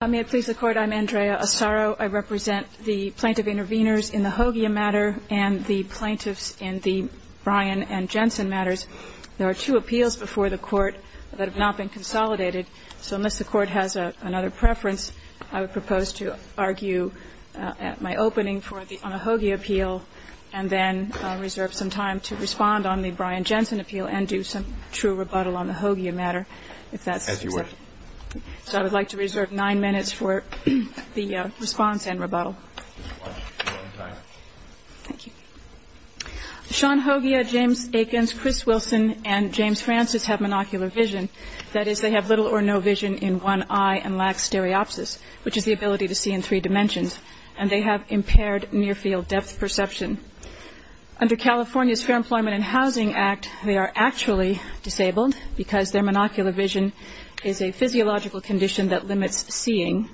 May it please the Court, I'm Andrea Asaro. I represent the Plaintiff Intervenors in the Hogya matter and the Plaintiffs in the Bryan and Jensen matters. There are two appeals before the Court that have not been consolidated, so unless the Court has another preference, I would propose to argue my opening on the Hogya appeal and then reserve some time to respond on the Bryan-Jensen appeal and do some true rebuttal on the Hogya matter, if that's acceptable. So I would like to reserve nine minutes for the response and rebuttal. Thank you. Sean Hogya, James Akins, Chris Wilson, and James Francis have monocular vision. That is, they have little or no vision in one eye and lack stereopsis, which is the ability to see in three dimensions, and they have impaired near-field depth perception. Under California's Fair Employment and Housing Act, they are actually disabled because their monocular vision is a physiological condition that limits seeing.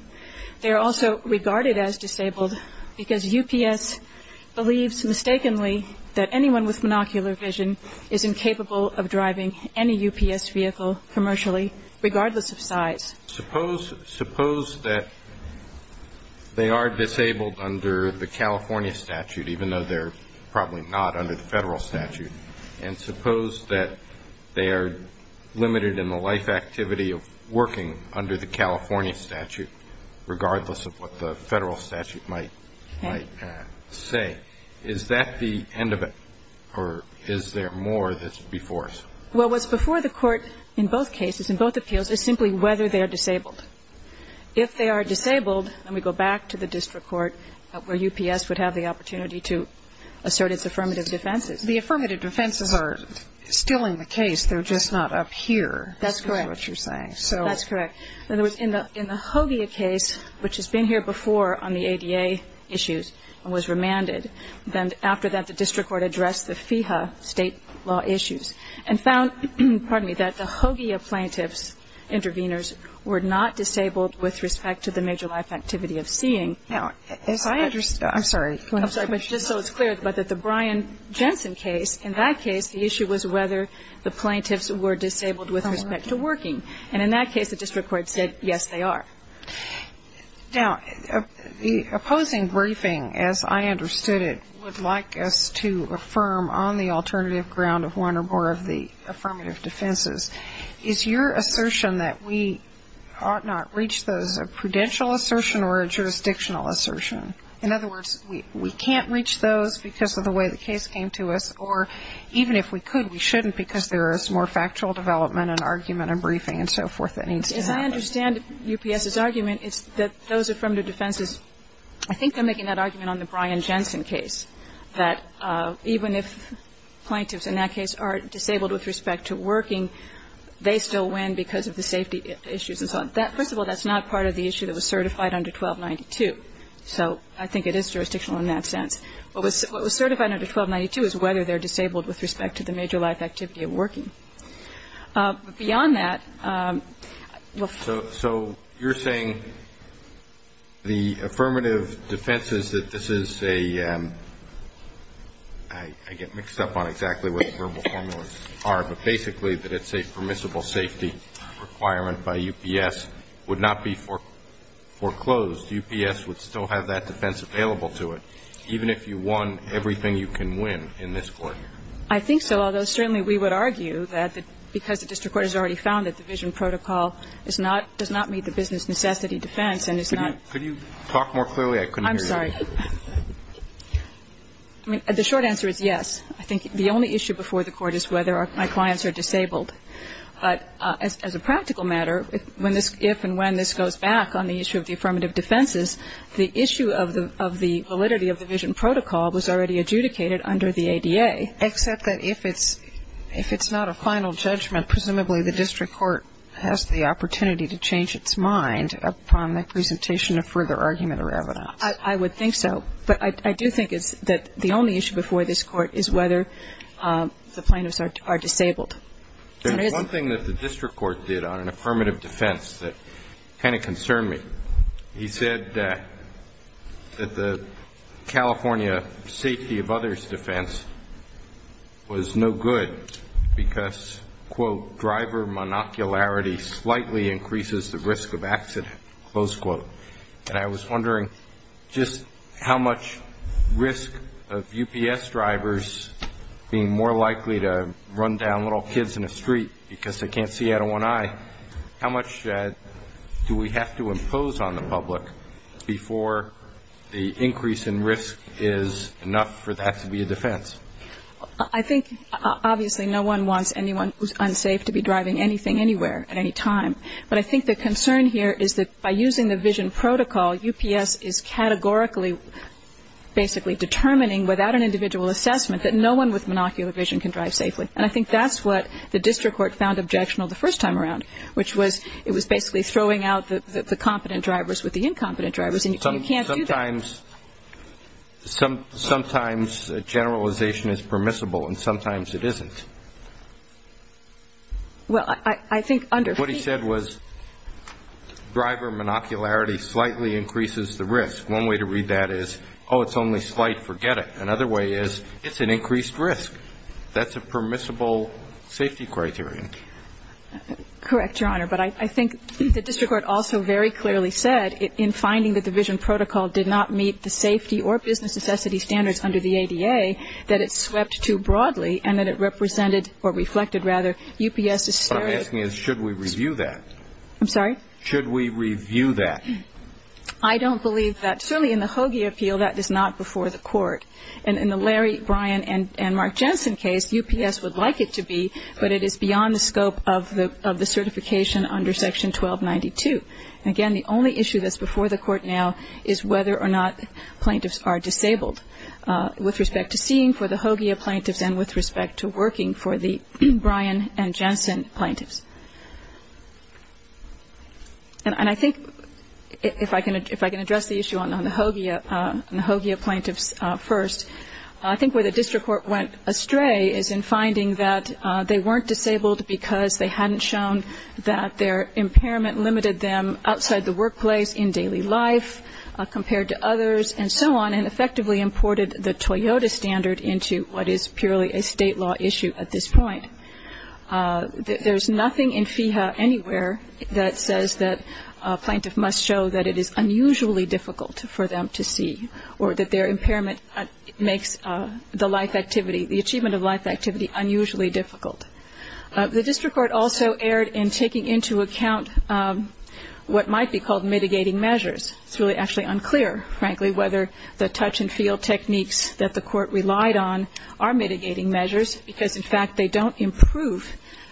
They are also regarded as disabled because UPS believes mistakenly that anyone with monocular vision is incapable of driving any UPS vehicle commercially, regardless of size. Suppose, suppose that they are disabled under the California statute, even though they're probably not under the Federal statute, and suppose that they are limited in the life activity of working under the California statute, regardless of what the Federal statute might say, is that the end of it, or is there more that's before us? Well, what's before the Court in both cases, in both appeals, is simply whether they are disabled. If they are disabled, then we go back to the district court where UPS would have the opportunity to assert its affirmative defenses. The affirmative defenses are still in the case. They're just not up here. That's correct. That's what you're saying. That's correct. In the Hogya case, which has been here before on the ADA issues and was remanded, then after that the district court addressed the FEHA state law issues. And found, pardon me, that the Hogya plaintiff's intervenors were not disabled with respect to the major life activity of seeing. Now, as I understand, I'm sorry. I'm sorry, but just so it's clear, but that the Brian Jensen case, in that case, the issue was whether the plaintiffs were disabled with respect to working. And in that case, the district court said, yes, they are. Now, the opposing briefing, as I understood it, would like us to affirm on the alternative ground of one or more of the affirmative defenses. Is your assertion that we ought not reach those a prudential assertion or a jurisdictional assertion? In other words, we can't reach those because of the way the case came to us, or even if we could, we shouldn't because there is more factual development and argument and briefing and so forth that needs to happen. As I understand UPS's argument, it's that those affirmative defenses, I think they're making that argument on the Brian Jensen case. That even if plaintiffs, in that case, are disabled with respect to working, they still win because of the safety issues and so on. First of all, that's not part of the issue that was certified under 1292. So I think it is jurisdictional in that sense. What was certified under 1292 is whether they're disabled with respect to the major life activity of working. But beyond that we'll find out. The point of defense is that this is a, I get mixed up on exactly what the verbal formulas are, but basically that it's a permissible safety requirement by UPS would not be foreclosed. UPS would still have that defense available to it, even if you won everything you can win in this court. I think so, although certainly we would argue that because the district court has already found that the vision protocol is not, does not meet the business necessity defense and is not. Could you talk more clearly? I couldn't hear you. I'm sorry. I mean, the short answer is yes. I think the only issue before the court is whether my clients are disabled. But as a practical matter, if and when this goes back on the issue of the affirmative defenses, the issue of the validity of the vision protocol was already adjudicated under the ADA. Except that if it's not a final judgment, presumably the district court has the discretion of further argument or evidence. I would think so. But I do think that the only issue before this court is whether the plaintiffs are disabled. One thing that the district court did on an affirmative defense that kind of concerned me, he said that the California safety of others defense was no good because, quote, driver monocularity slightly increases the risk of accident, close quote. And I was wondering just how much risk of UPS drivers being more likely to run down little kids in a street because they can't see out of one eye, how much do we have to impose on the public before the increase in risk is enough for that to be a defense? I think, obviously, no one wants anyone who's unsafe to be driving anything anywhere at any time. But I think the concern here is that by using the vision protocol, UPS is categorically basically determining without an individual assessment that no one with monocular vision can drive safely. And I think that's what the district court found objectionable the first time around, which was it was basically throwing out the competent drivers with the incompetent drivers and you can't do that. Sometimes generalization is permissible and sometimes it isn't. What he said was driver monocularity slightly increases the risk. One way to read that is, oh, it's only slight, forget it. Another way is it's an increased risk. That's a permissible safety criterion. Correct, Your Honor. But I think the district court also very clearly said in finding that the vision protocol did not meet the safety or business necessity standards under the ADA that it swept too broadly and that it represented or reflected, rather, UPS's stereotype. What I'm asking is should we review that? I'm sorry? Should we review that? I don't believe that. Certainly in the Hoagie appeal, that is not before the court. And in the Larry, Brian, and Mark Jensen case, UPS would like it to be, but it is beyond the scope of the certification under Section 1292. Again, the only issue that's before the court now is whether or not plaintiffs are disabled. With respect to seeing for the Hoagie plaintiffs and with respect to working for the Brian and Jensen plaintiffs. And I think if I can address the issue on the Hoagie plaintiffs first, I think where the district court went astray is in finding that they weren't disabled because they hadn't shown that their impairment limited them outside the workplace, in daily life, compared to others, and so on, and effectively imported the Toyota standard into what is purely a state law issue at this point. There's nothing in FEHA anywhere that says that a plaintiff must show that it is unusually difficult for them to see or that their impairment makes the life activity, the achievement of life activity, unusually difficult. The district court also erred in taking into account what might be called mitigating measures. It's really actually unclear, frankly, whether the touch and feel techniques that the court relied on are mitigating measures because, in fact, they don't improve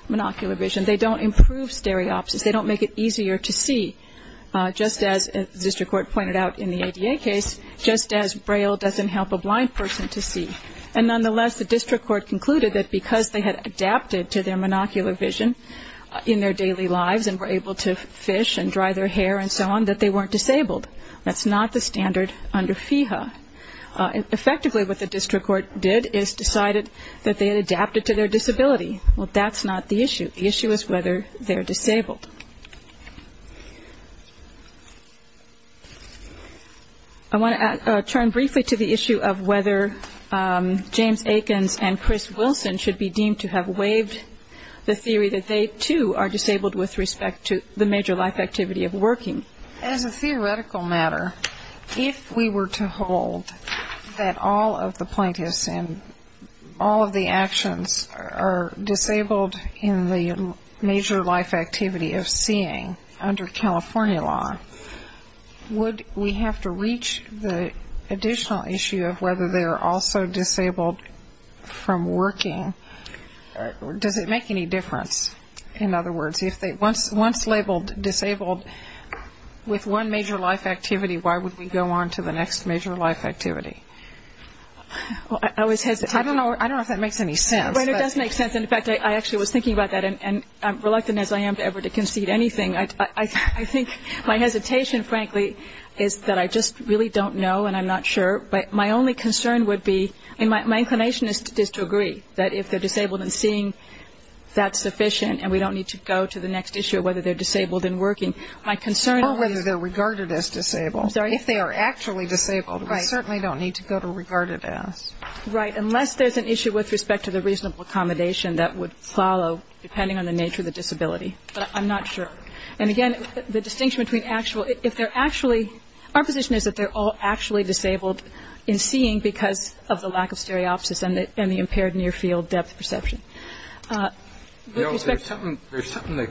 monocular vision. They don't improve stereopsis. They don't make it easier to see, just as the district court pointed out in the ADA case, just as braille doesn't help a blind person to see. And nonetheless, the district court concluded that because they had adapted to their monocular vision in their daily lives and were able to fish and dry their hair and so on, that they weren't disabled. That's not the standard under FEHA. Effectively, what the district court did is decided that they had adapted to their disability. Well, that's not the issue. The issue is whether they're disabled. I want to turn briefly to the issue of whether James Akins and Chris Wilson should be deemed to have waived the theory that they, too, are disabled with respect to the major life activity of working. As a theoretical matter, if we were to hold that all of the plaintiffs and all of the actions are disabled in the major life activity of working, under California law, would we have to reach the additional issue of whether they are also disabled from working? Does it make any difference? In other words, once labeled disabled with one major life activity, why would we go on to the next major life activity? Well, it does make sense. In fact, I actually was thinking about that, and I'm reluctant as I am ever to concede anything. I think my hesitation, frankly, is that I just really don't know and I'm not sure. But my only concern would be, and my inclination is to agree, that if they're disabled and seeing, that's sufficient and we don't need to go to the next issue of whether they're disabled in working. Or whether they're regarded as disabled. If they are actually disabled, we certainly don't need to go to regarded as. Right. Unless there's an issue with respect to the reasonable accommodation that would follow, depending on the nature of the disability. But I'm not sure. And again, the distinction between actual, if they're actually, our position is that they're all actually disabled in seeing because of the lack of stereopsis and the impaired near field depth perception. There's something,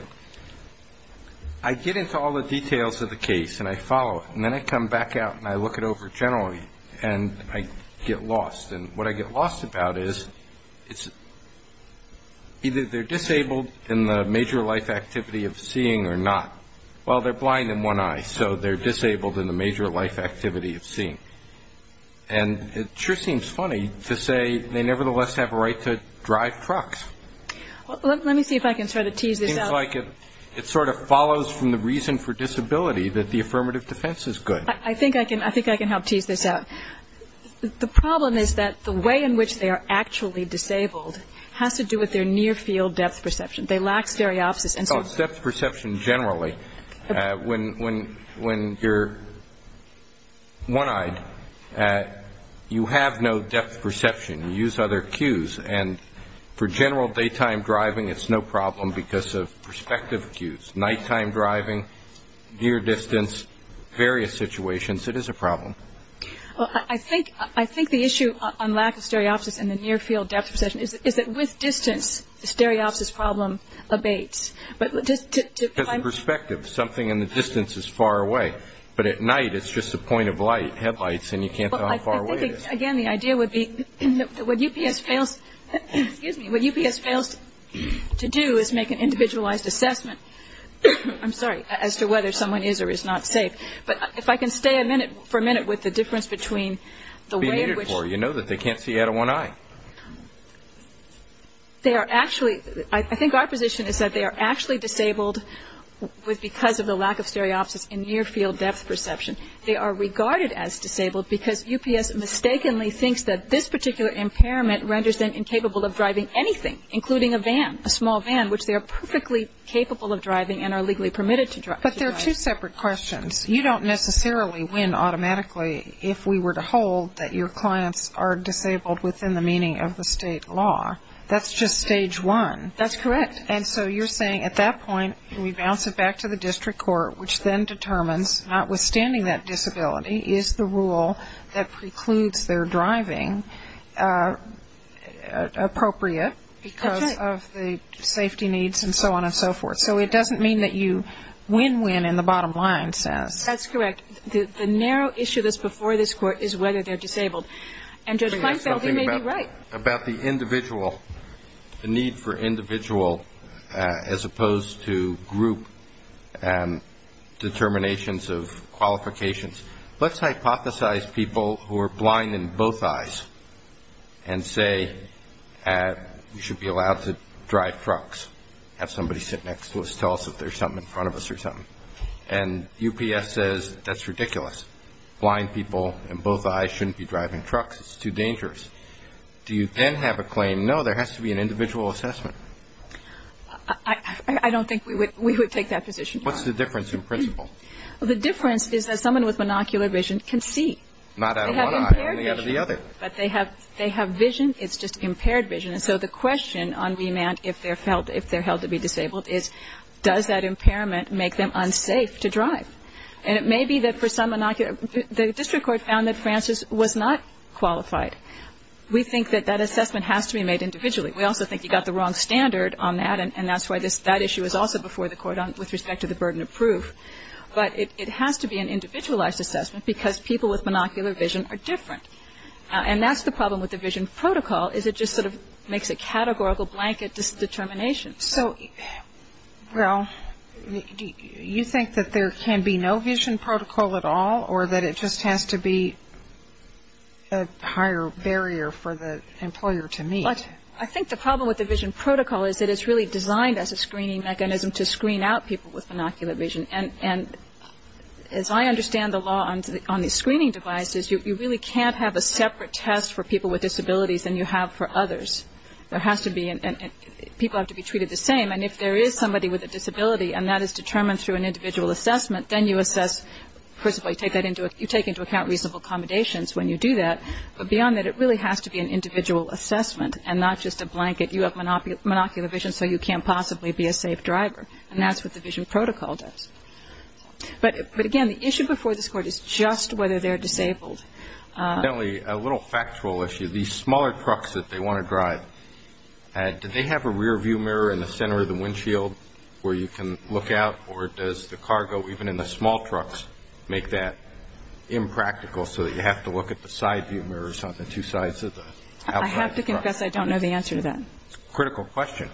I get into all the details of the case and I follow it. And then I come back out and I look it over generally and I get lost. And what I get lost about is either they're disabled in the major life activity of seeing or not. Well, they're blind in one eye, so they're disabled in the major life activity of seeing. And it sure seems funny to say they nevertheless have a right to drive trucks. Let me see if I can sort of tease this out. It seems like it sort of follows from the reason for disability that the affirmative defense is good. I think I can help tease this out. The problem is that the way in which they are actually disabled has to do with their near field depth perception. They lack stereopsis. Depth perception generally, when you're one-eyed, you have no depth perception. You use other cues. And for general daytime driving, it's no problem because of perspective cues. Nighttime driving, near distance, various situations, it is a problem. Well, I think the issue on lack of stereopsis and the near field depth perception is that with distance, the stereopsis problem abates. Because of perspective, something in the distance is far away. But at night, it's just a point of light, headlights, and you can't tell how far away it is. Well, I think, again, the idea would be what UPS fails to do is make an individualized assessment, I'm sorry, as to whether someone is or is not safe. But if I can stay a minute, for a minute, with the difference between the way in which. You know that they can't see out of one eye. They are actually, I think our position is that they are actually disabled because of the lack of stereopsis and near field depth perception. They are regarded as disabled because UPS mistakenly thinks that this particular impairment renders them incapable of driving anything, including a van, a small van, which they are perfectly capable of driving and are legally permitted to drive. But there are two separate questions. You don't necessarily win automatically if we were to hold that your clients are disabled within the meaning of the state law. That's just stage one. That's correct. And so you're saying at that point, we bounce it back to the district court, which then determines, notwithstanding that disability, is the rule that precludes their driving appropriate because of the safety needs and so on and so forth. So it doesn't mean that you win-win in the bottom line sense. That's correct. The narrow issue that's before this Court is whether they're disabled. And Judge Kleinfeld, you may be right. About the individual, the need for individual as opposed to group and determinations of qualifications, let's hypothesize people who are blind in both eyes and say you should be allowed to drive trucks, have somebody sit next to us, tell us if there's something in front of us or something. And UPS says that's ridiculous. Blind people in both eyes shouldn't be driving trucks. It's too dangerous. Do you then have a claim, no, there has to be an individual assessment? I don't think we would take that position, Your Honor. What's the difference in principle? The difference is that someone with monocular vision can see. Not out of one eye. They have impaired vision. Only out of the other. But they have vision. It's just impaired vision. And so the question on remand, if they're held to be disabled, is does that impairment make them unsafe to drive? And it may be that for some monocular, the district court found that Francis was not qualified. We think that that assessment has to be made individually. We also think he got the wrong standard on that, and that's why that issue is also before the Court with respect to the burden of proof. But it has to be an individualized assessment because people with monocular vision are different. And that's the problem with the vision protocol, is it just sort of makes a categorical blanket determination. So, well, you think that there can be no vision protocol at all or that it just has to be a higher barrier for the employer to meet? I think the problem with the vision protocol is that it's really designed as a screening mechanism to screen out people with monocular vision. And as I understand the law on these screening devices, you really can't have a separate test for people with disabilities than you have for others. There has to be and people have to be treated the same. And if there is somebody with a disability and that is determined through an individual assessment, then you assess, first of all, you take into account reasonable accommodations when you do that. But beyond that, it really has to be an individual assessment and not just a blanket. You have monocular vision, so you can't possibly be a safe driver. And that's what the vision protocol does. But, again, the issue before this Court is just whether they're disabled. A little factual issue. These smaller trucks that they want to drive, do they have a rear view mirror in the center of the windshield where you can look out or does the cargo even in the small trucks make that impractical so that you have to look at the side view mirrors on the two sides of the truck? I have to confess I don't know the answer to that. It's a critical question.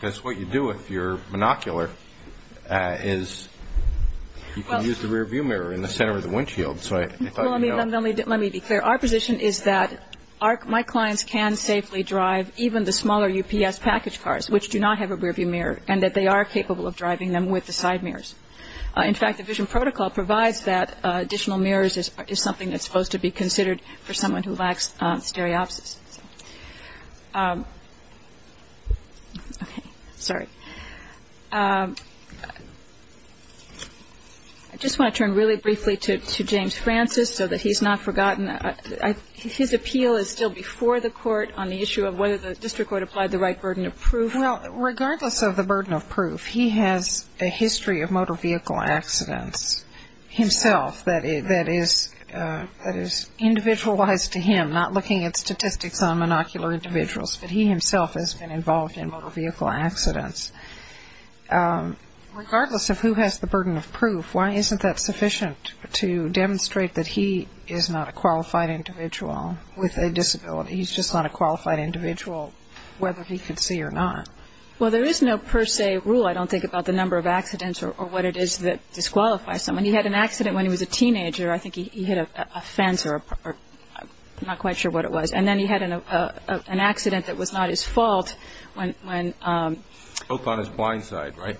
Because what you do if you're monocular is you can use the rear view mirror in the center of the windshield. Let me be clear. Our position is that my clients can safely drive even the smaller UPS package cars, which do not have a rear view mirror, and that they are capable of driving them with the side mirrors. In fact, the vision protocol provides that additional mirrors is something that's supposed to be considered for someone who lacks stereopsis. Okay. Sorry. I just want to turn really briefly to James Francis so that he's not forgotten. His appeal is still before the Court on the issue of whether the district court applied the right burden of proof. Well, regardless of the burden of proof, he has a history of motor vehicle accidents himself that is individualized to him, not looking at statistics on monocular individuals, but he himself has been involved in motor vehicle accidents. Regardless of who has the burden of proof, why isn't that sufficient to demonstrate that he is not a qualified individual with a disability? He's just not a qualified individual, whether he could see or not. Well, there is no per se rule, I don't think, about the number of accidents or what it is that disqualifies someone. He had an accident when he was a teenager. I think he hit a fence or I'm not quite sure what it was. And then he had an accident that was not his fault when he was 16. Both on his blind side, right?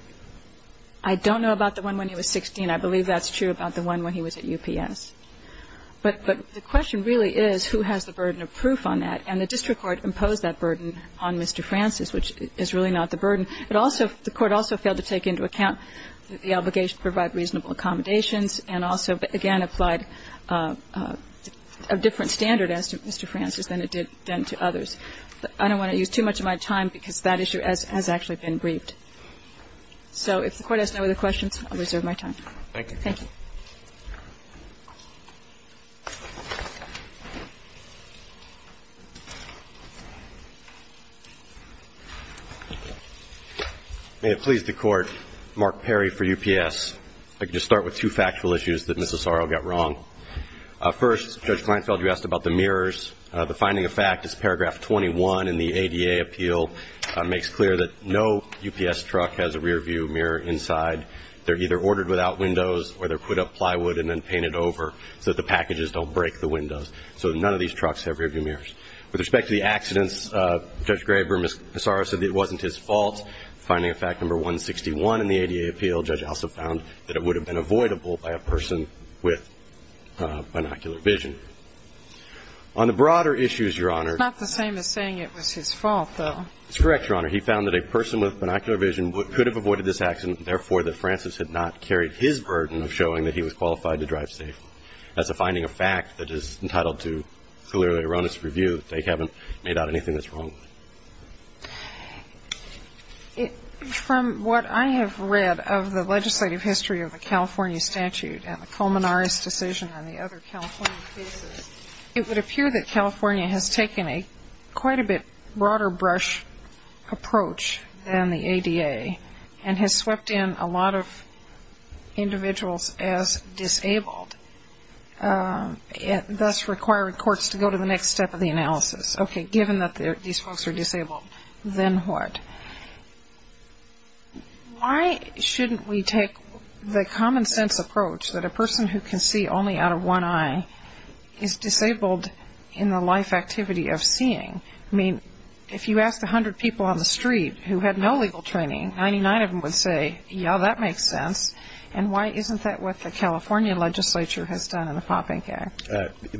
I don't know about the one when he was 16. I believe that's true about the one when he was at UPS. But the question really is who has the burden of proof on that, And the district court imposed that burden on Mr. Francis, which is really not the burden. It also the court also failed to take into account the obligation to provide reasonable accommodations and also, again, applied a different standard as to Mr. Francis than it did then to others. I don't want to use too much of my time because that issue has actually been briefed. So if the Court has no other questions, I'll reserve my time. Thank you. May it please the Court. Mark Perry for UPS. I can just start with two factual issues that Mrs. Sorrell got wrong. First, Judge Kleinfeld, you asked about the mirrors. The finding of fact is paragraph 21 in the ADA appeal makes clear that no UPS truck has a rearview mirror inside. They're either ordered without windows or they're put up plywood and then painted over so that the packages don't break the windows. So none of these trucks have rearview mirrors. With respect to the accidents, Judge Graber, Ms. Sorrell said it wasn't his fault. Finding of fact number 161 in the ADA appeal, Judge also found that it would have been avoidable by a person with binocular vision. On the broader issues, Your Honor. It's not the same as saying it was his fault, though. It's correct, Your Honor. He found that a person with binocular vision could have avoided this accident and, therefore, that Francis had not carried his burden of showing that he was qualified to drive safely. That's a finding of fact that is entitled to clearly erroneous review. They haven't made out anything that's wrong. From what I have read of the legislative history of the California statute and the Colmenares decision and the other California cases, it would appear that California has taken a quite a bit broader brush approach than the ADA and has swept in a lot of individuals as disabled, thus requiring courts to go to the next step of the analysis. Okay, given that these folks are disabled, then what? Why shouldn't we take the common sense approach that a person who can see only out of one eye is disabled in the life activity of seeing? I mean, if you asked 100 people on the street who had no legal training, 99 of them would say, yeah, that makes sense, and why isn't that what the California legislature has done in the Popping Act?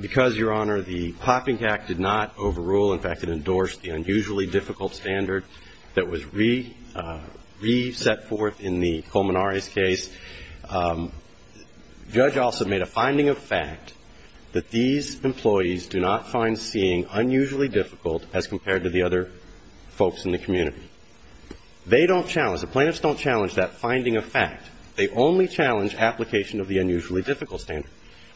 Because, Your Honor, the Popping Act did not overrule. In fact, it endorsed the unusually difficult standard that was re-set forth in the Colmenares case. Judge Alsop made a finding of fact that these employees do not find seeing unusually difficult as compared to the other folks in the community. They don't challenge, the plaintiffs don't challenge that finding of fact. They only challenge application of the unusually difficult standard.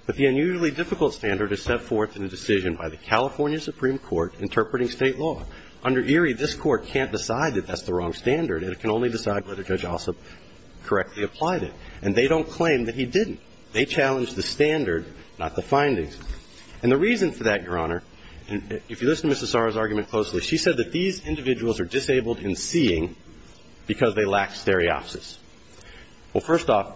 But the unusually difficult standard is set forth in a decision by the California Supreme Court interpreting state law. Under Erie, this court can't decide that that's the wrong standard and it can only decide whether Judge Alsop correctly applied it. And they don't claim that he didn't. They challenged the standard, not the findings. And the reason for that, Your Honor, if you listen to Mrs. Sarra's argument closely, she said that these individuals are disabled in seeing because they lack stereopsis. Well, first off,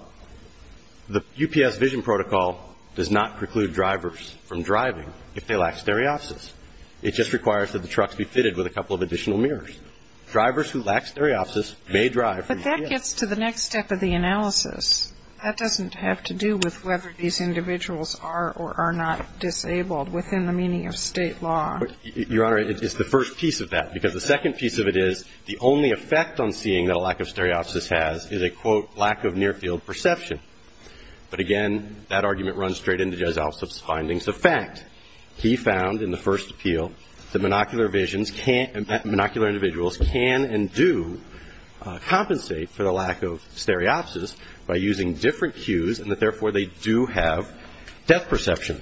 the UPS vision protocol does not preclude drivers from driving if they lack stereopsis. It just requires that the trucks be fitted with a couple of additional mirrors. Drivers who lack stereopsis may drive. But that gets to the next step of the analysis. That doesn't have to do with whether these individuals are or are not disabled within the meaning of state law. Your Honor, it's the first piece of that. Because the second piece of it is the only effect on seeing that a lack of stereopsis has is a, quote, lack of near-field perception. But, again, that argument runs straight into Judge Alsop's findings of fact. He found in the first appeal that monocular visions can't ñ that monocular individuals can and do compensate for the lack of stereopsis by using different cues and that, therefore, they do have depth perception.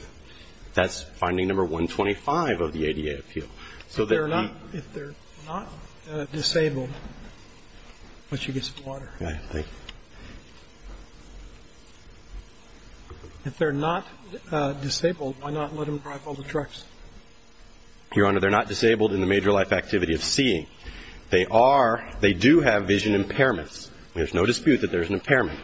That's finding number 125 of the ADA appeal. So that we ñ If they're not disabled, why don't you get some water? Thank you. If they're not disabled, why not let them drive all the trucks? Your Honor, they're not disabled in the major life activity of seeing. They are ñ they do have vision impairments. There's no dispute that there's an impairment.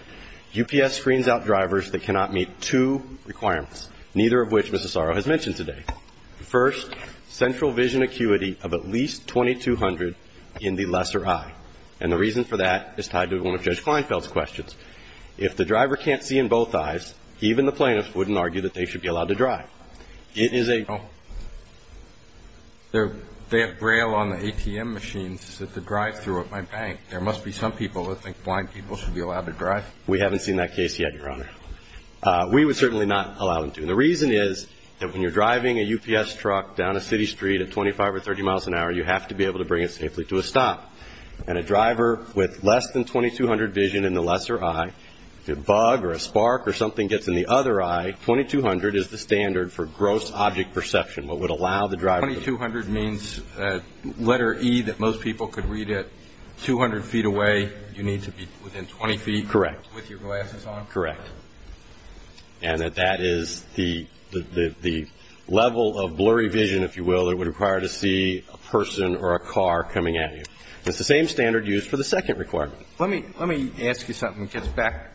UPS screens out drivers that cannot meet two requirements, neither of which Mrs. Soro has mentioned today. First, central vision acuity of at least 2200 in the lesser eye. And the reason for that is tied to one of Judge Kleinfeld's questions. If the driver can't see in both eyes, even the plaintiff wouldn't argue that they should be allowed to drive. It is a ñ They have Braille on the ATM machines that they drive through at my bank. There must be some people that think blind people should be allowed to drive. We haven't seen that case yet, Your Honor. We would certainly not allow them to. And the reason is that when you're driving a UPS truck down a city street at 25 or 30 miles an hour, you have to be able to bring it safely to a stop. And a driver with less than 2200 vision in the lesser eye, if there's a bug or a spark or something gets in the other eye, 2200 is the standard for gross object perception, what would allow the driver to ñ 2200 means that letter E that most people could read at 200 feet away, you need to be within 20 feet ñ Correct. ñ with your glasses on? Correct. And that that is the level of blurry vision, if you will, it would require to see a person or a car coming at you. It's the same standard used for the second requirement. Let me ask you something that gets back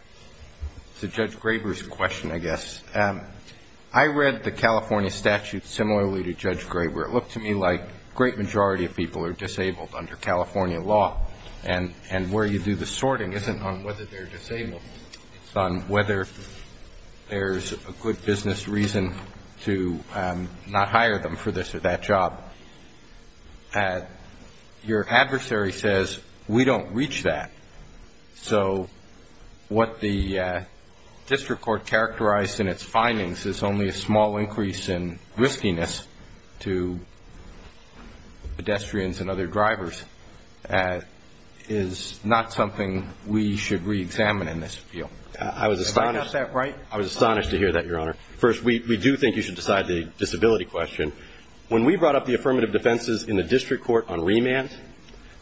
to Judge Graber's question, I guess. I read the California statute similarly to Judge Graber. It looked to me like a great majority of people are disabled under California law, and where you do the sorting isn't on whether they're disabled. It's on whether there's a good business reason to not hire them for this or that job. Your adversary says, we don't reach that. So what the district court characterized in its findings is only a small increase in riskiness to pedestrians and other drivers is not something we should reexamine in this field. I was astonished ñ Did I get that right? I was astonished to hear that, Your Honor. First, we do think you should decide the disability question. When we brought up the affirmative defenses in the district court on remand,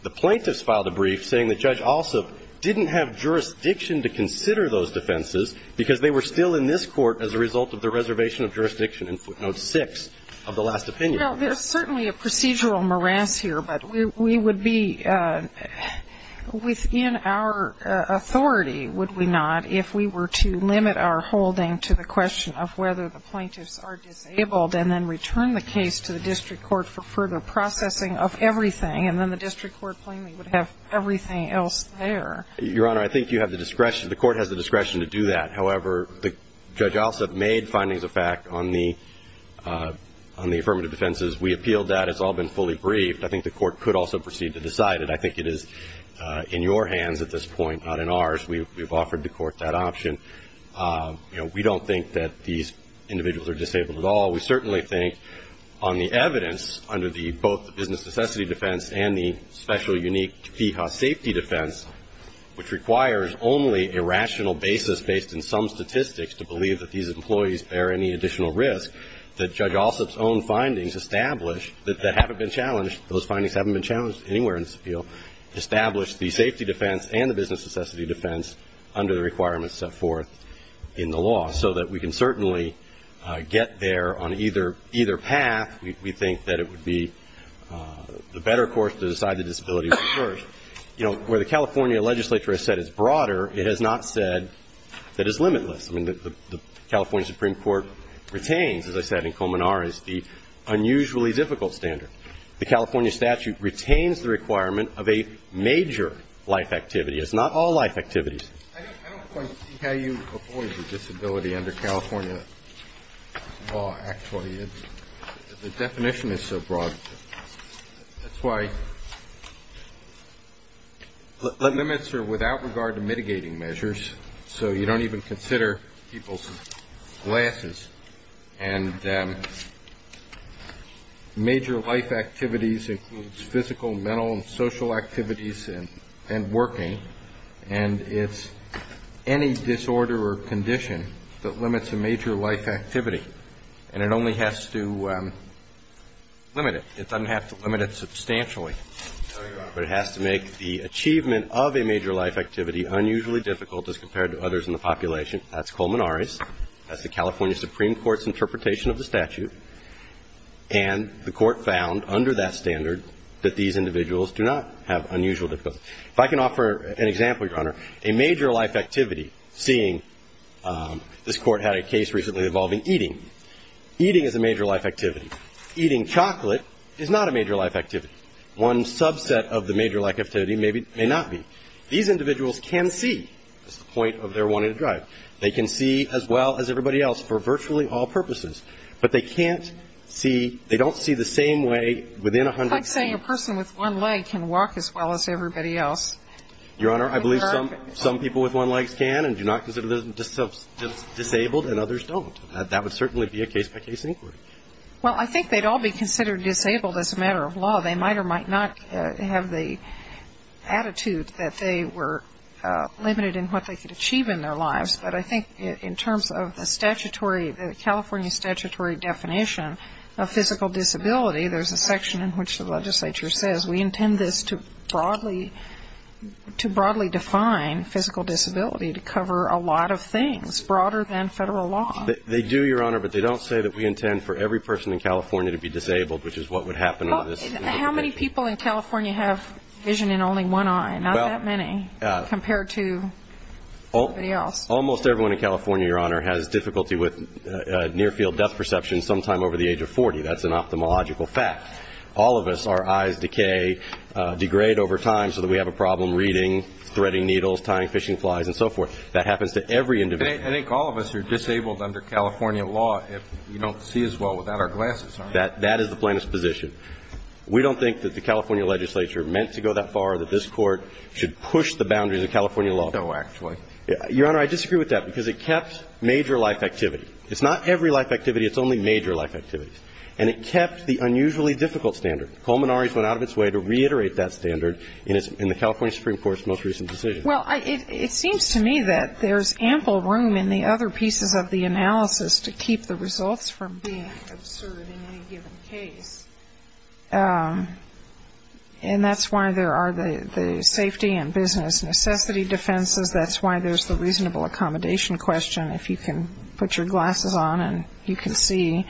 the plaintiffs filed a brief saying that Judge Alsop didn't have jurisdiction to consider those defenses because they were still in this court as a result of the reservation of jurisdiction in footnote 6 of the last opinion. You know, there's certainly a procedural morass here, but we would be within our authority, would we not, if we were to limit our holding to the question of whether the plaintiffs are disabled and then return the case to the district court for further processing of everything, and then the district court plainly would have everything else there. Your Honor, I think you have the discretion ñ the court has the discretion to do that. However, Judge Alsop made findings of fact on the affirmative defenses. We appealed that. It's all been fully briefed. I think the court could also proceed to decide it. I think it is in your hands at this point, not in ours. We've offered the court that option. You know, we don't think that these individuals are disabled at all. We certainly think on the evidence under both the business necessity defense and the special unique PFAS safety defense, which requires only a rational basis based in some statistics to believe that these employees bear any additional risk, that Judge Alsop's own findings establish that haven't been challenged. Those findings haven't been challenged anywhere in this appeal. Establish the safety defense and the business necessity defense under the requirements set forth in the law so that we can certainly get there on either path. We think that it would be the better course to decide the disability. You know, where the California legislature has said it's broader, it has not said that it's limitless. I mean, the California Supreme Court retains, as I said in Komenar, is the unusually difficult standard. The California statute retains the requirement of a major life activity. It's not all life activities. I don't quite see how you avoid the disability under California law, actually. The definition is so broad. That's why limits are without regard to mitigating measures. So you don't even consider people's glasses. And major life activities includes physical, mental, and social activities and working. And it's any disorder or condition that limits a major life activity. And it only has to limit it. It doesn't have to limit it substantially. But it has to make the achievement of a major life activity unusually difficult as compared to others in the population. That's Komenar's. That's the California Supreme Court's interpretation of the statute. And the Court found under that standard that these individuals do not have unusual difficulties. If I can offer an example, Your Honor, a major life activity, seeing this Court had a case recently involving eating. Eating is a major life activity. Eating chocolate is not a major life activity. One subset of the major life activity may not be. These individuals can see. That's the point of their one-handed drive. They can see as well as everybody else for virtually all purposes. But they can't see, they don't see the same way within a hundred feet. A person with one leg can walk as well as everybody else. Your Honor, I believe some people with one leg can and do not consider themselves disabled and others don't. That would certainly be a case-by-case inquiry. Well, I think they'd all be considered disabled as a matter of law. They might or might not have the attitude that they were limited in what they could achieve in their lives. But I think in terms of the statutory, the California statutory definition of physical disability, there's a section in which the legislature says we intend this to broadly define physical disability, to cover a lot of things broader than federal law. They do, Your Honor, but they don't say that we intend for every person in California to be disabled, which is what would happen under this legislation. How many people in California have vision in only one eye? Not that many compared to everybody else. Almost everyone in California, Your Honor, has difficulty with near-field death perception sometime over the age of 40. That's an ophthalmological fact. All of us, our eyes decay, degrade over time so that we have a problem reading, threading needles, tying fishing flies, and so forth. That happens to every individual. I think all of us are disabled under California law if you don't see as well without our glasses on. That is the plaintiff's position. We don't think that the California legislature meant to go that far that this Court should push the boundaries of California law. No, actually. Your Honor, I disagree with that because it kept major life activity. It's not every life activity. It's only major life activities. And it kept the unusually difficult standard. Culminari's went out of its way to reiterate that standard in the California Supreme Court's most recent decision. Well, it seems to me that there's ample room in the other pieces of the analysis to keep the results from being absurd in any given case. And that's why there are the safety and business necessity defenses. That's why there's the reasonable accommodation question. If you can put your glasses on and you can see,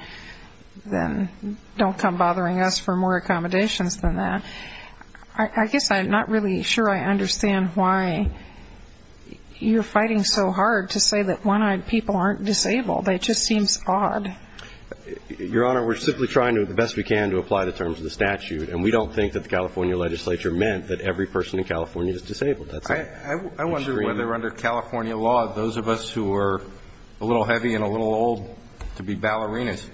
then don't come bothering us for more accommodations than that. I guess I'm not really sure I understand why you're fighting so hard to say that one-eyed people aren't disabled. It just seems odd. Your Honor, we're simply trying the best we can to apply the terms of the statute, and we don't think that the California legislature meant that every person in California is disabled. I wonder whether under California law, those of us who are a little heavy and a little old to be ballerinas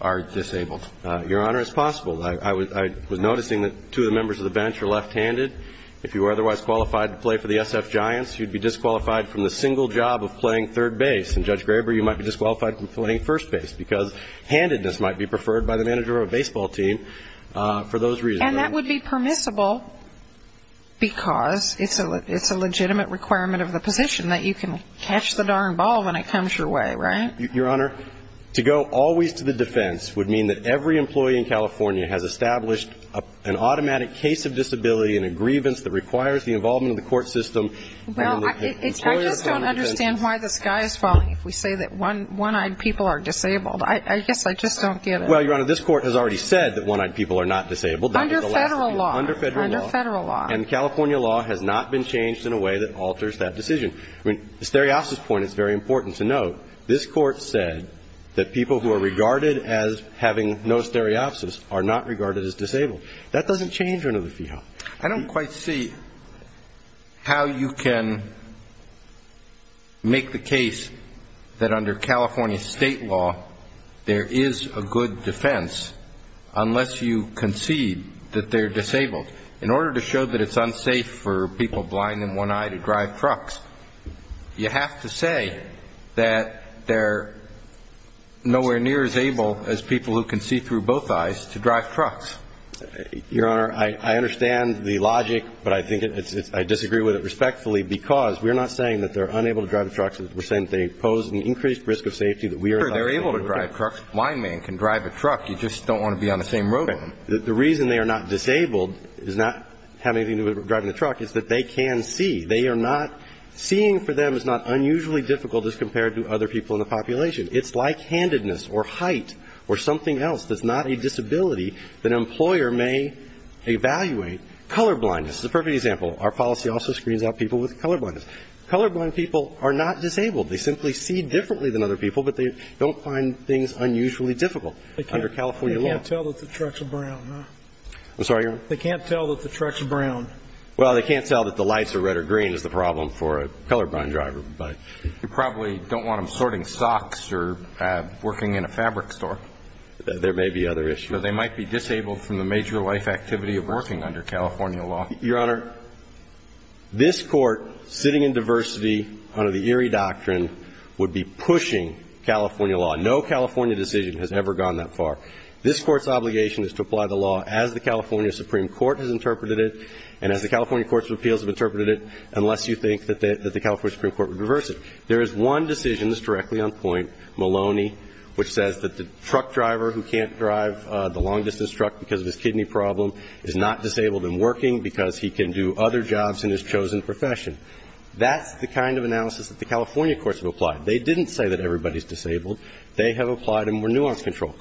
are disabled. Your Honor, it's possible. I was noticing that two of the members of the bench are left-handed. If you were otherwise qualified to play for the SF Giants, you'd be disqualified from the single job of playing third base. And, Judge Graber, you might be disqualified from playing first base because handedness might be preferred by the manager of a baseball team for those reasons. And that would be permissible because it's a legitimate requirement of the position that you can catch the darn ball when it comes your way, right? Your Honor, to go always to the defense would mean that every employee in California has established an automatic case of disability and a grievance that requires the involvement of the court system. Well, I just don't understand why the sky is falling if we say that one-eyed people are disabled. I guess I just don't get it. Well, Your Honor, this Court has already said that one-eyed people are not disabled. Under Federal law. Under Federal law. Under Federal law. And the California law has not been changed in a way that alters that decision. I mean, the stereopsis point is very important to note. This Court said that people who are regarded as having no stereopsis are not regarded as disabled. That doesn't change under the fee law. I don't quite see how you can make the case that under California state law there is a good defense unless you concede that they're disabled. In order to show that it's unsafe for people blind in one eye to drive trucks, you have to say that they're nowhere near as able as people who can see through both eyes to drive trucks. Your Honor, I understand the logic, but I think it's – I disagree with it respectfully because we're not saying that they're unable to drive trucks. We're saying that they pose an increased risk of safety that we are not able to do. Sure, they're able to drive trucks. A blind man can drive a truck. You just don't want to be on the same road with them. The reason they are not disabled is not having anything to do with driving a truck is that they can see. They are not – seeing for them is not unusually difficult as compared to other people in the population. It's like handedness or height or something else that's not a disability that an employer may evaluate. Colorblindness is a perfect example. Our policy also screens out people with colorblindness. Colorblind people are not disabled. They simply see differently than other people, but they don't find things unusually difficult under California law. They can't tell that the truck's brown, huh? I'm sorry, Your Honor? They can't tell that the truck's brown. Well, they can't tell that the lights are red or green is the problem for a colorblind driver. You probably don't want them sorting socks or working in a fabric store. There may be other issues. So they might be disabled from the major life activity of working under California law. Your Honor, this Court, sitting in diversity under the Erie Doctrine, would be pushing California law. No California decision has ever gone that far. This Court's obligation is to apply the law as the California Supreme Court has interpreted it and as the California Courts of Appeals have interpreted it, unless you think that the California Supreme Court would reverse it. There is one decision that's directly on point, Maloney, which says that the truck driver who can't drive the long-distance truck because of his kidney problem is not disabled and working because he can do other jobs in his chosen profession. That's the kind of analysis that the California courts have applied. They didn't say that everybody's disabled. They have applied a more nuanced control.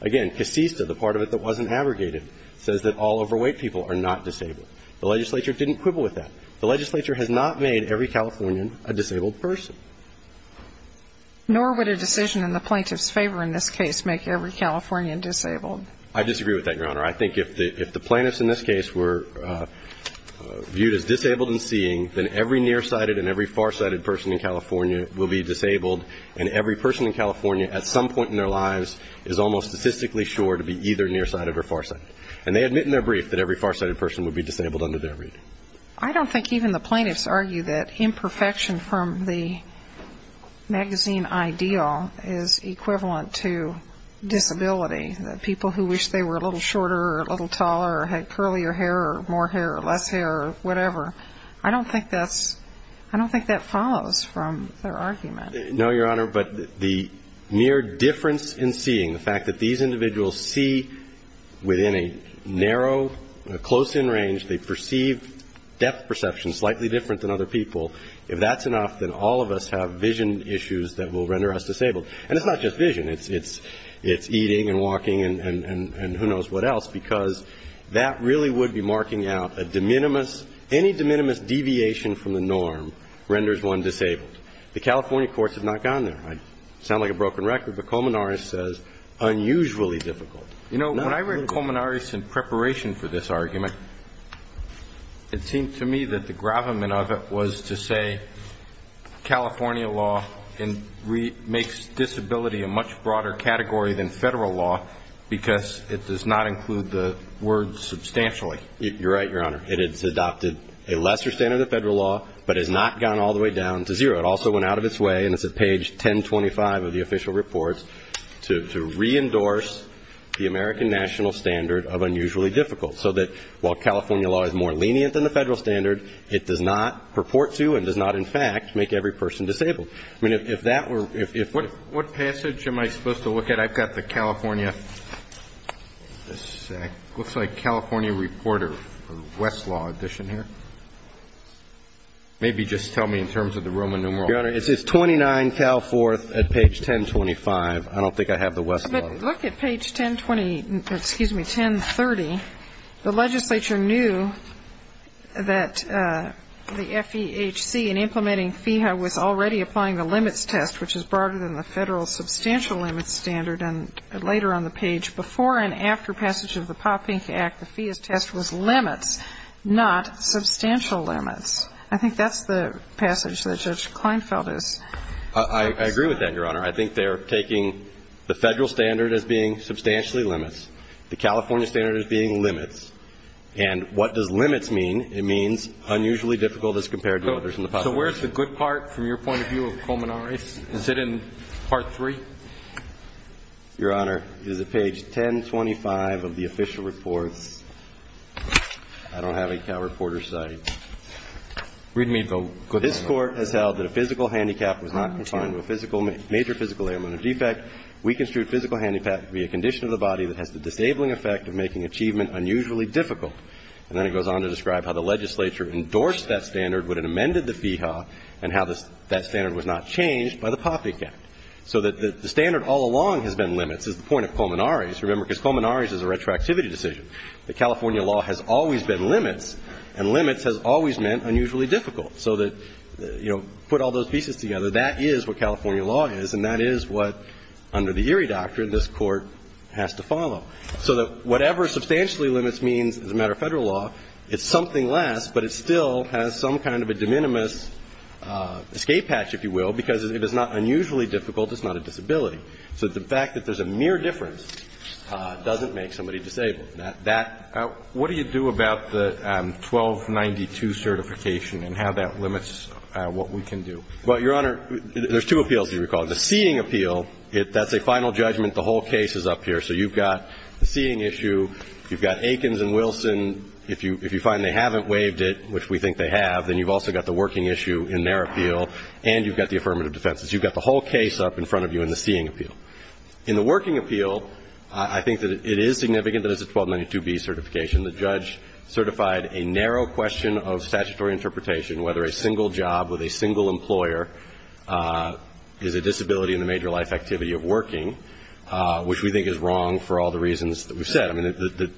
Again, CASISTA, the part of it that wasn't abrogated, says that all overweight people are not disabled. The legislature didn't quibble with that. The legislature has not made every Californian a disabled person. Nor would a decision in the plaintiff's favor in this case make every Californian disabled. I disagree with that, Your Honor. I think if the plaintiffs in this case were viewed as disabled in seeing, then every nearsighted and every farsighted person in California will be disabled and every person in California at some point in their lives is almost statistically sure to be either nearsighted or farsighted. And they admit in their brief that every farsighted person would be disabled under their reading. I don't think even the plaintiffs argue that imperfection from the magazine ideal is equivalent to disability, that people who wish they were a little shorter or a little taller or had curlier hair or more hair or less hair or whatever. I don't think that follows from their argument. No, Your Honor, but the mere difference in seeing, the fact that these individuals see within a narrow, close-in range, they perceive depth perception slightly different than other people, if that's enough, then all of us have vision issues that will render us disabled. And it's not just vision. It's eating and walking and who knows what else, because that really would be marking out a de minimis, any de minimis deviation from the norm renders one disabled. The California courts have not gone there. I sound like a broken record, but Komenaris says unusually difficult. You know, when I read Komenaris in preparation for this argument, it seemed to me that the gravamen of it was to say California law makes disability a much broader category than federal law because it does not include the word substantially. You're right, Your Honor. It has adopted a lesser standard of federal law, but has not gone all the way down to zero. It also went out of its way, and it's at page 1025 of the official reports, to re-endorse the American national standard of unusually difficult, so that while California law is more lenient than the federal standard, it does not purport to and does not, in fact, make every person disabled. I mean, if that were ‑‑ What passage am I supposed to look at? I've got the California ‑‑ looks like California reporter for Westlaw edition here. Maybe just tell me in terms of the Roman numeral. Your Honor, it says 29 Cal 4th at page 1025. I don't think I have the Westlaw. But look at page 1020 ‑‑ excuse me, 1030. The legislature knew that the FEHC in implementing FEHA was already applying the limits test, which is broader than the federal substantial limits standard. And later on the page, before and after passage of the Popink Act, the FEHC test was limits, not substantial limits. I think that's the passage that Judge Kleinfeld is ‑‑ I agree with that, Your Honor. I think they're taking the federal standard as being substantially limits, the California standard as being limits. And what does limits mean? It means unusually difficult as compared to others in the population. So where's the good part from your point of view of culminaries? Is it in part three? Your Honor, it is at page 1025 of the official reports. I don't have a Cal Reporter site. Read me the good part. This court has held that a physical handicap was not confined to a major physical ailment or defect. We construed physical handicap to be a condition of the body that has the disabling effect of making achievement unusually difficult. And then it goes on to describe how the legislature endorsed that standard when it amended the FEHA and how that standard was not changed by the Popink Act. So that the standard all along has been limits is the point of culminaries. Remember, because culminaries is a retroactivity decision. The California law has always been limits, and limits has always meant unusually difficult. So that, you know, put all those pieces together, that is what California law is, and that is what, under the Erie doctrine, this Court has to follow. So that whatever substantially limits means as a matter of federal law, it's something less, but it still has some kind of a de minimis escape hatch, if you will, because it is not unusually difficult. It's not a disability. So the fact that there's a mere difference doesn't make somebody disabled. Now, that – what do you do about the 1292 certification and how that limits what we can do? Well, Your Honor, there's two appeals, if you recall. The seating appeal, that's a final judgment. The whole case is up here. So you've got the seating issue. You've got Akins and Wilson. If you find they haven't waived it, which we think they have, then you've also got the working issue in their appeal, and you've got the affirmative defenses. You've got the whole case up in front of you in the seating appeal. In the working appeal, I think that it is significant that it's a 1292B certification. The judge certified a narrow question of statutory interpretation, whether a single job with a single employer is a disability in the major life activity of working, which we think is wrong for all the reasons that we've said. I mean,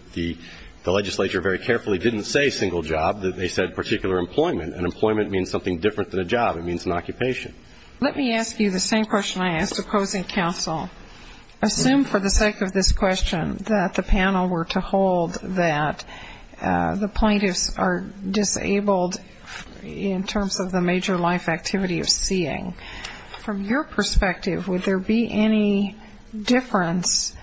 the legislature very carefully didn't say single job. They said particular employment. And employment means something different than a job. It means an occupation. Let me ask you the same question I asked opposing counsel. Assume for the sake of this question that the panel were to hold that the plaintiffs are disabled in terms of the major life activity of seeing. From your perspective, would there be any difference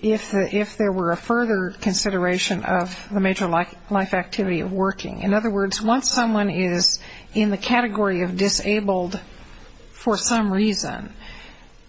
if there were a further consideration of the major life activity of working? In other words, once someone is in the category of disabled for some reason,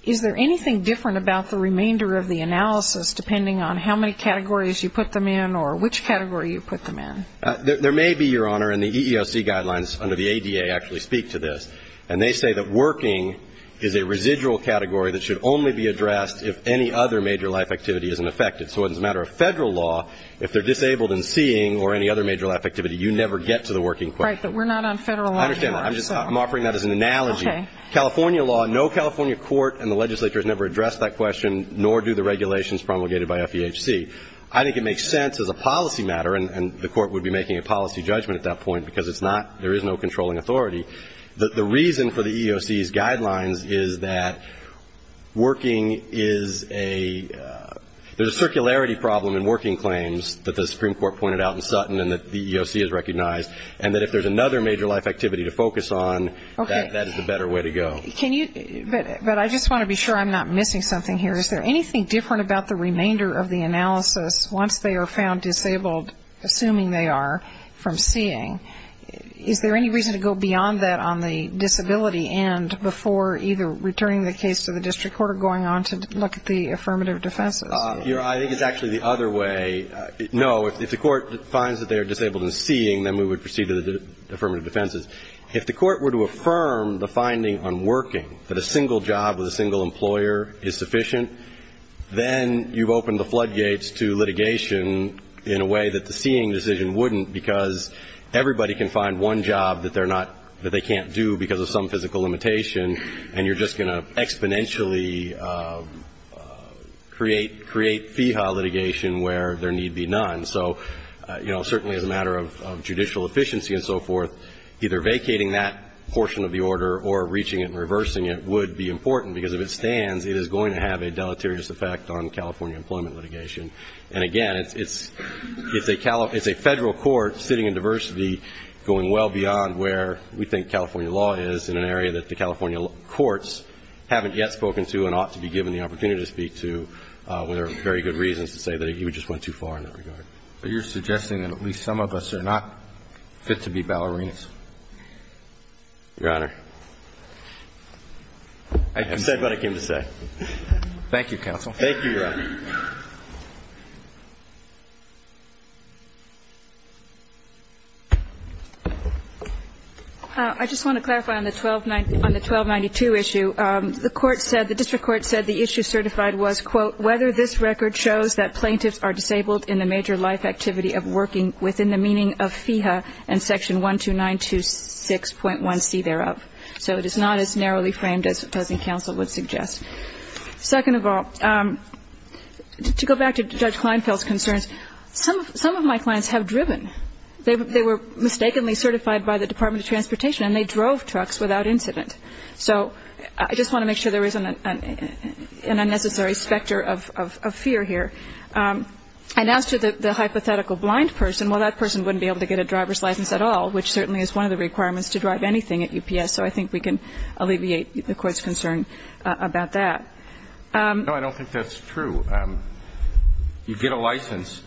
is there anything different about the remainder of the analysis, depending on how many categories you put them in or which category you put them in? There may be, Your Honor, and the EEOC guidelines under the ADA actually speak to this. And they say that working is a residual category that should only be addressed if any other major life activity isn't affected. So as a matter of federal law, if they're disabled in seeing or any other major life activity, you never get to the working question. Right, but we're not on federal law here. I understand that. I'm offering that as an analogy. Okay. California law, no California court in the legislature has never addressed that question, nor do the regulations promulgated by FEHC. I think it makes sense as a policy matter, and the court would be making a policy judgment at that point, because it's not, there is no controlling authority. The reason for the EEOC's guidelines is that working is a, there's a circularity problem in working claims that the Supreme Court pointed out in Sutton and that the EEOC has recognized, and that if there's another major life activity to focus on, that is the better way to go. Okay. Can you, but I just want to be sure I'm not missing something here. Is there anything different about the remainder of the analysis once they are found disabled, assuming they are, from seeing? Is there any reason to go beyond that on the disability end before either returning the case to the district court or going on to look at the affirmative defenses? Your Honor, I think it's actually the other way. No, if the court finds that they are disabled in seeing, then we would proceed to the affirmative defenses. If the court were to affirm the finding on working, that a single job with a single employer is sufficient, then you've opened the floodgates to litigation in a way that the seeing decision wouldn't, because everybody can find one job that they're not, that they can't do because of some physical limitation, and you're just going to exponentially create, create feehaw litigation where there need be none. So, you know, certainly as a matter of judicial efficiency and so forth, either vacating that portion of the order or reaching it and reversing it would be important, because if it stands, it is going to have a deleterious effect on California employment litigation. And again, it's a federal court sitting in diversity going well beyond where we think California law is in an area that the California courts haven't yet spoken to and ought to be given the opportunity to speak to, where there are very good reasons to say that we just went too far in that regard. So you're suggesting that at least some of us are not fit to be ballerinas? Your Honor. I said what I came to say. Thank you, counsel. Thank you, Your Honor. I just want to clarify on the 1292 issue. First of all, whether this record shows that plaintiffs are disabled in the major life activity of working within the meaning of feehaw and section 12926.1c thereof. So it is not as narrowly framed as the present counsel would suggest. Second of all, to go back to Judge Kleinfeld's concerns, some of my clients have driven. They were mistakenly certified by the Department of Transportation, and they drove trucks without incident. So I just want to make sure there isn't an unnecessary specter of fear here. And as to the hypothetical blind person, well, that person wouldn't be able to get a driver's license at all, which certainly is one of the requirements to drive anything at UPS. So I think we can alleviate the court's concern about that. No, I don't think that's true. You get a license,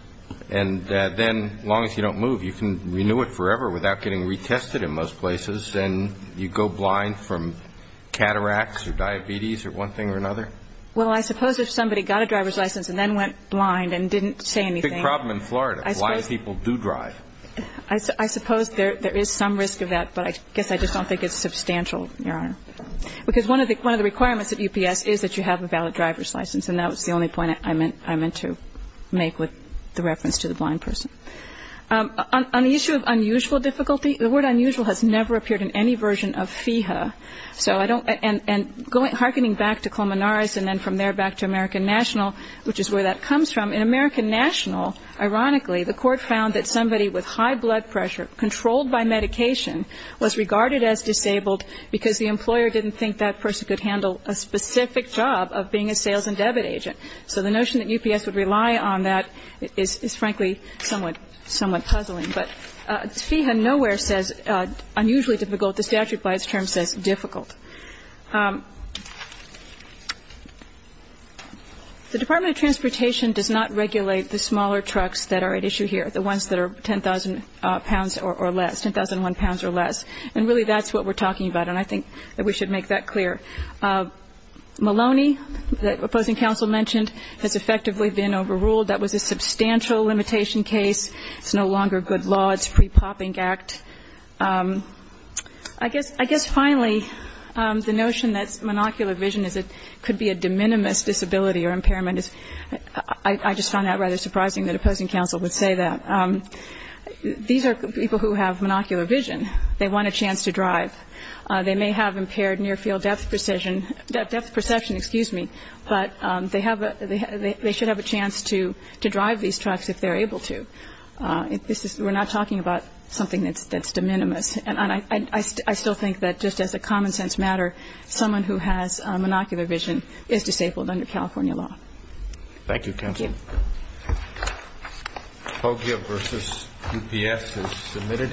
and then as long as you don't move, you can renew it forever without getting retested in most places, and you go blind from cataracts or diabetes or one thing or another? Well, I suppose if somebody got a driver's license and then went blind and didn't say anything. Big problem in Florida, blind people do drive. I suppose there is some risk of that, but I guess I just don't think it's substantial, Your Honor. Because one of the requirements at UPS is that you have a valid driver's license, and that was the only point I meant to make with the reference to the blind person. On the issue of unusual difficulty, the word unusual has never appeared in any version of FEHA. And hearkening back to Colmenares and then from there back to American National, which is where that comes from, in American National, ironically, the court found that somebody with high blood pressure, controlled by medication, was regarded as disabled because the employer didn't think that person could handle a specific job of being a sales and debit agent. So the notion that UPS would rely on that is, frankly, somewhat puzzling. But FEHA nowhere says unusually difficult. The statute by its term says difficult. The Department of Transportation does not regulate the smaller trucks that are at issue here, the ones that are 10,000 pounds or less, 10,001 pounds or less. And really that's what we're talking about, and I think that we should make that clear. Maloney, the opposing counsel mentioned, has effectively been overruled. That was a substantial limitation case. It's no longer good law. It's a pre-popping act. I guess finally the notion that monocular vision could be a de minimis disability or impairment, I just found that rather surprising that opposing counsel would say that. These are people who have monocular vision. They want a chance to drive. They may have impaired near-field depth precision, depth perception, excuse me, but they should have a chance to drive these trucks if they're able to. We're not talking about something that's de minimis. And I still think that just as a common sense matter, someone who has monocular vision is disabled under California law. Thank you, counsel. Thank you. POGIA versus UPS is submitted.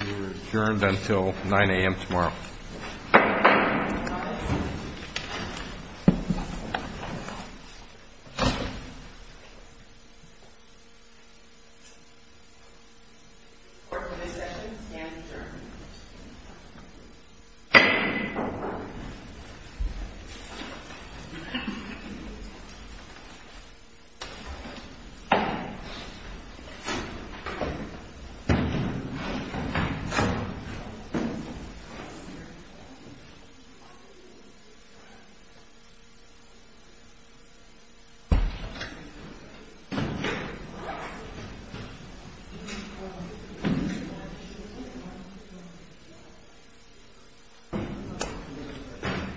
We're adjourned until 9 a.m. tomorrow. All rise. Court is in session. The stand is adjourned. Thank you.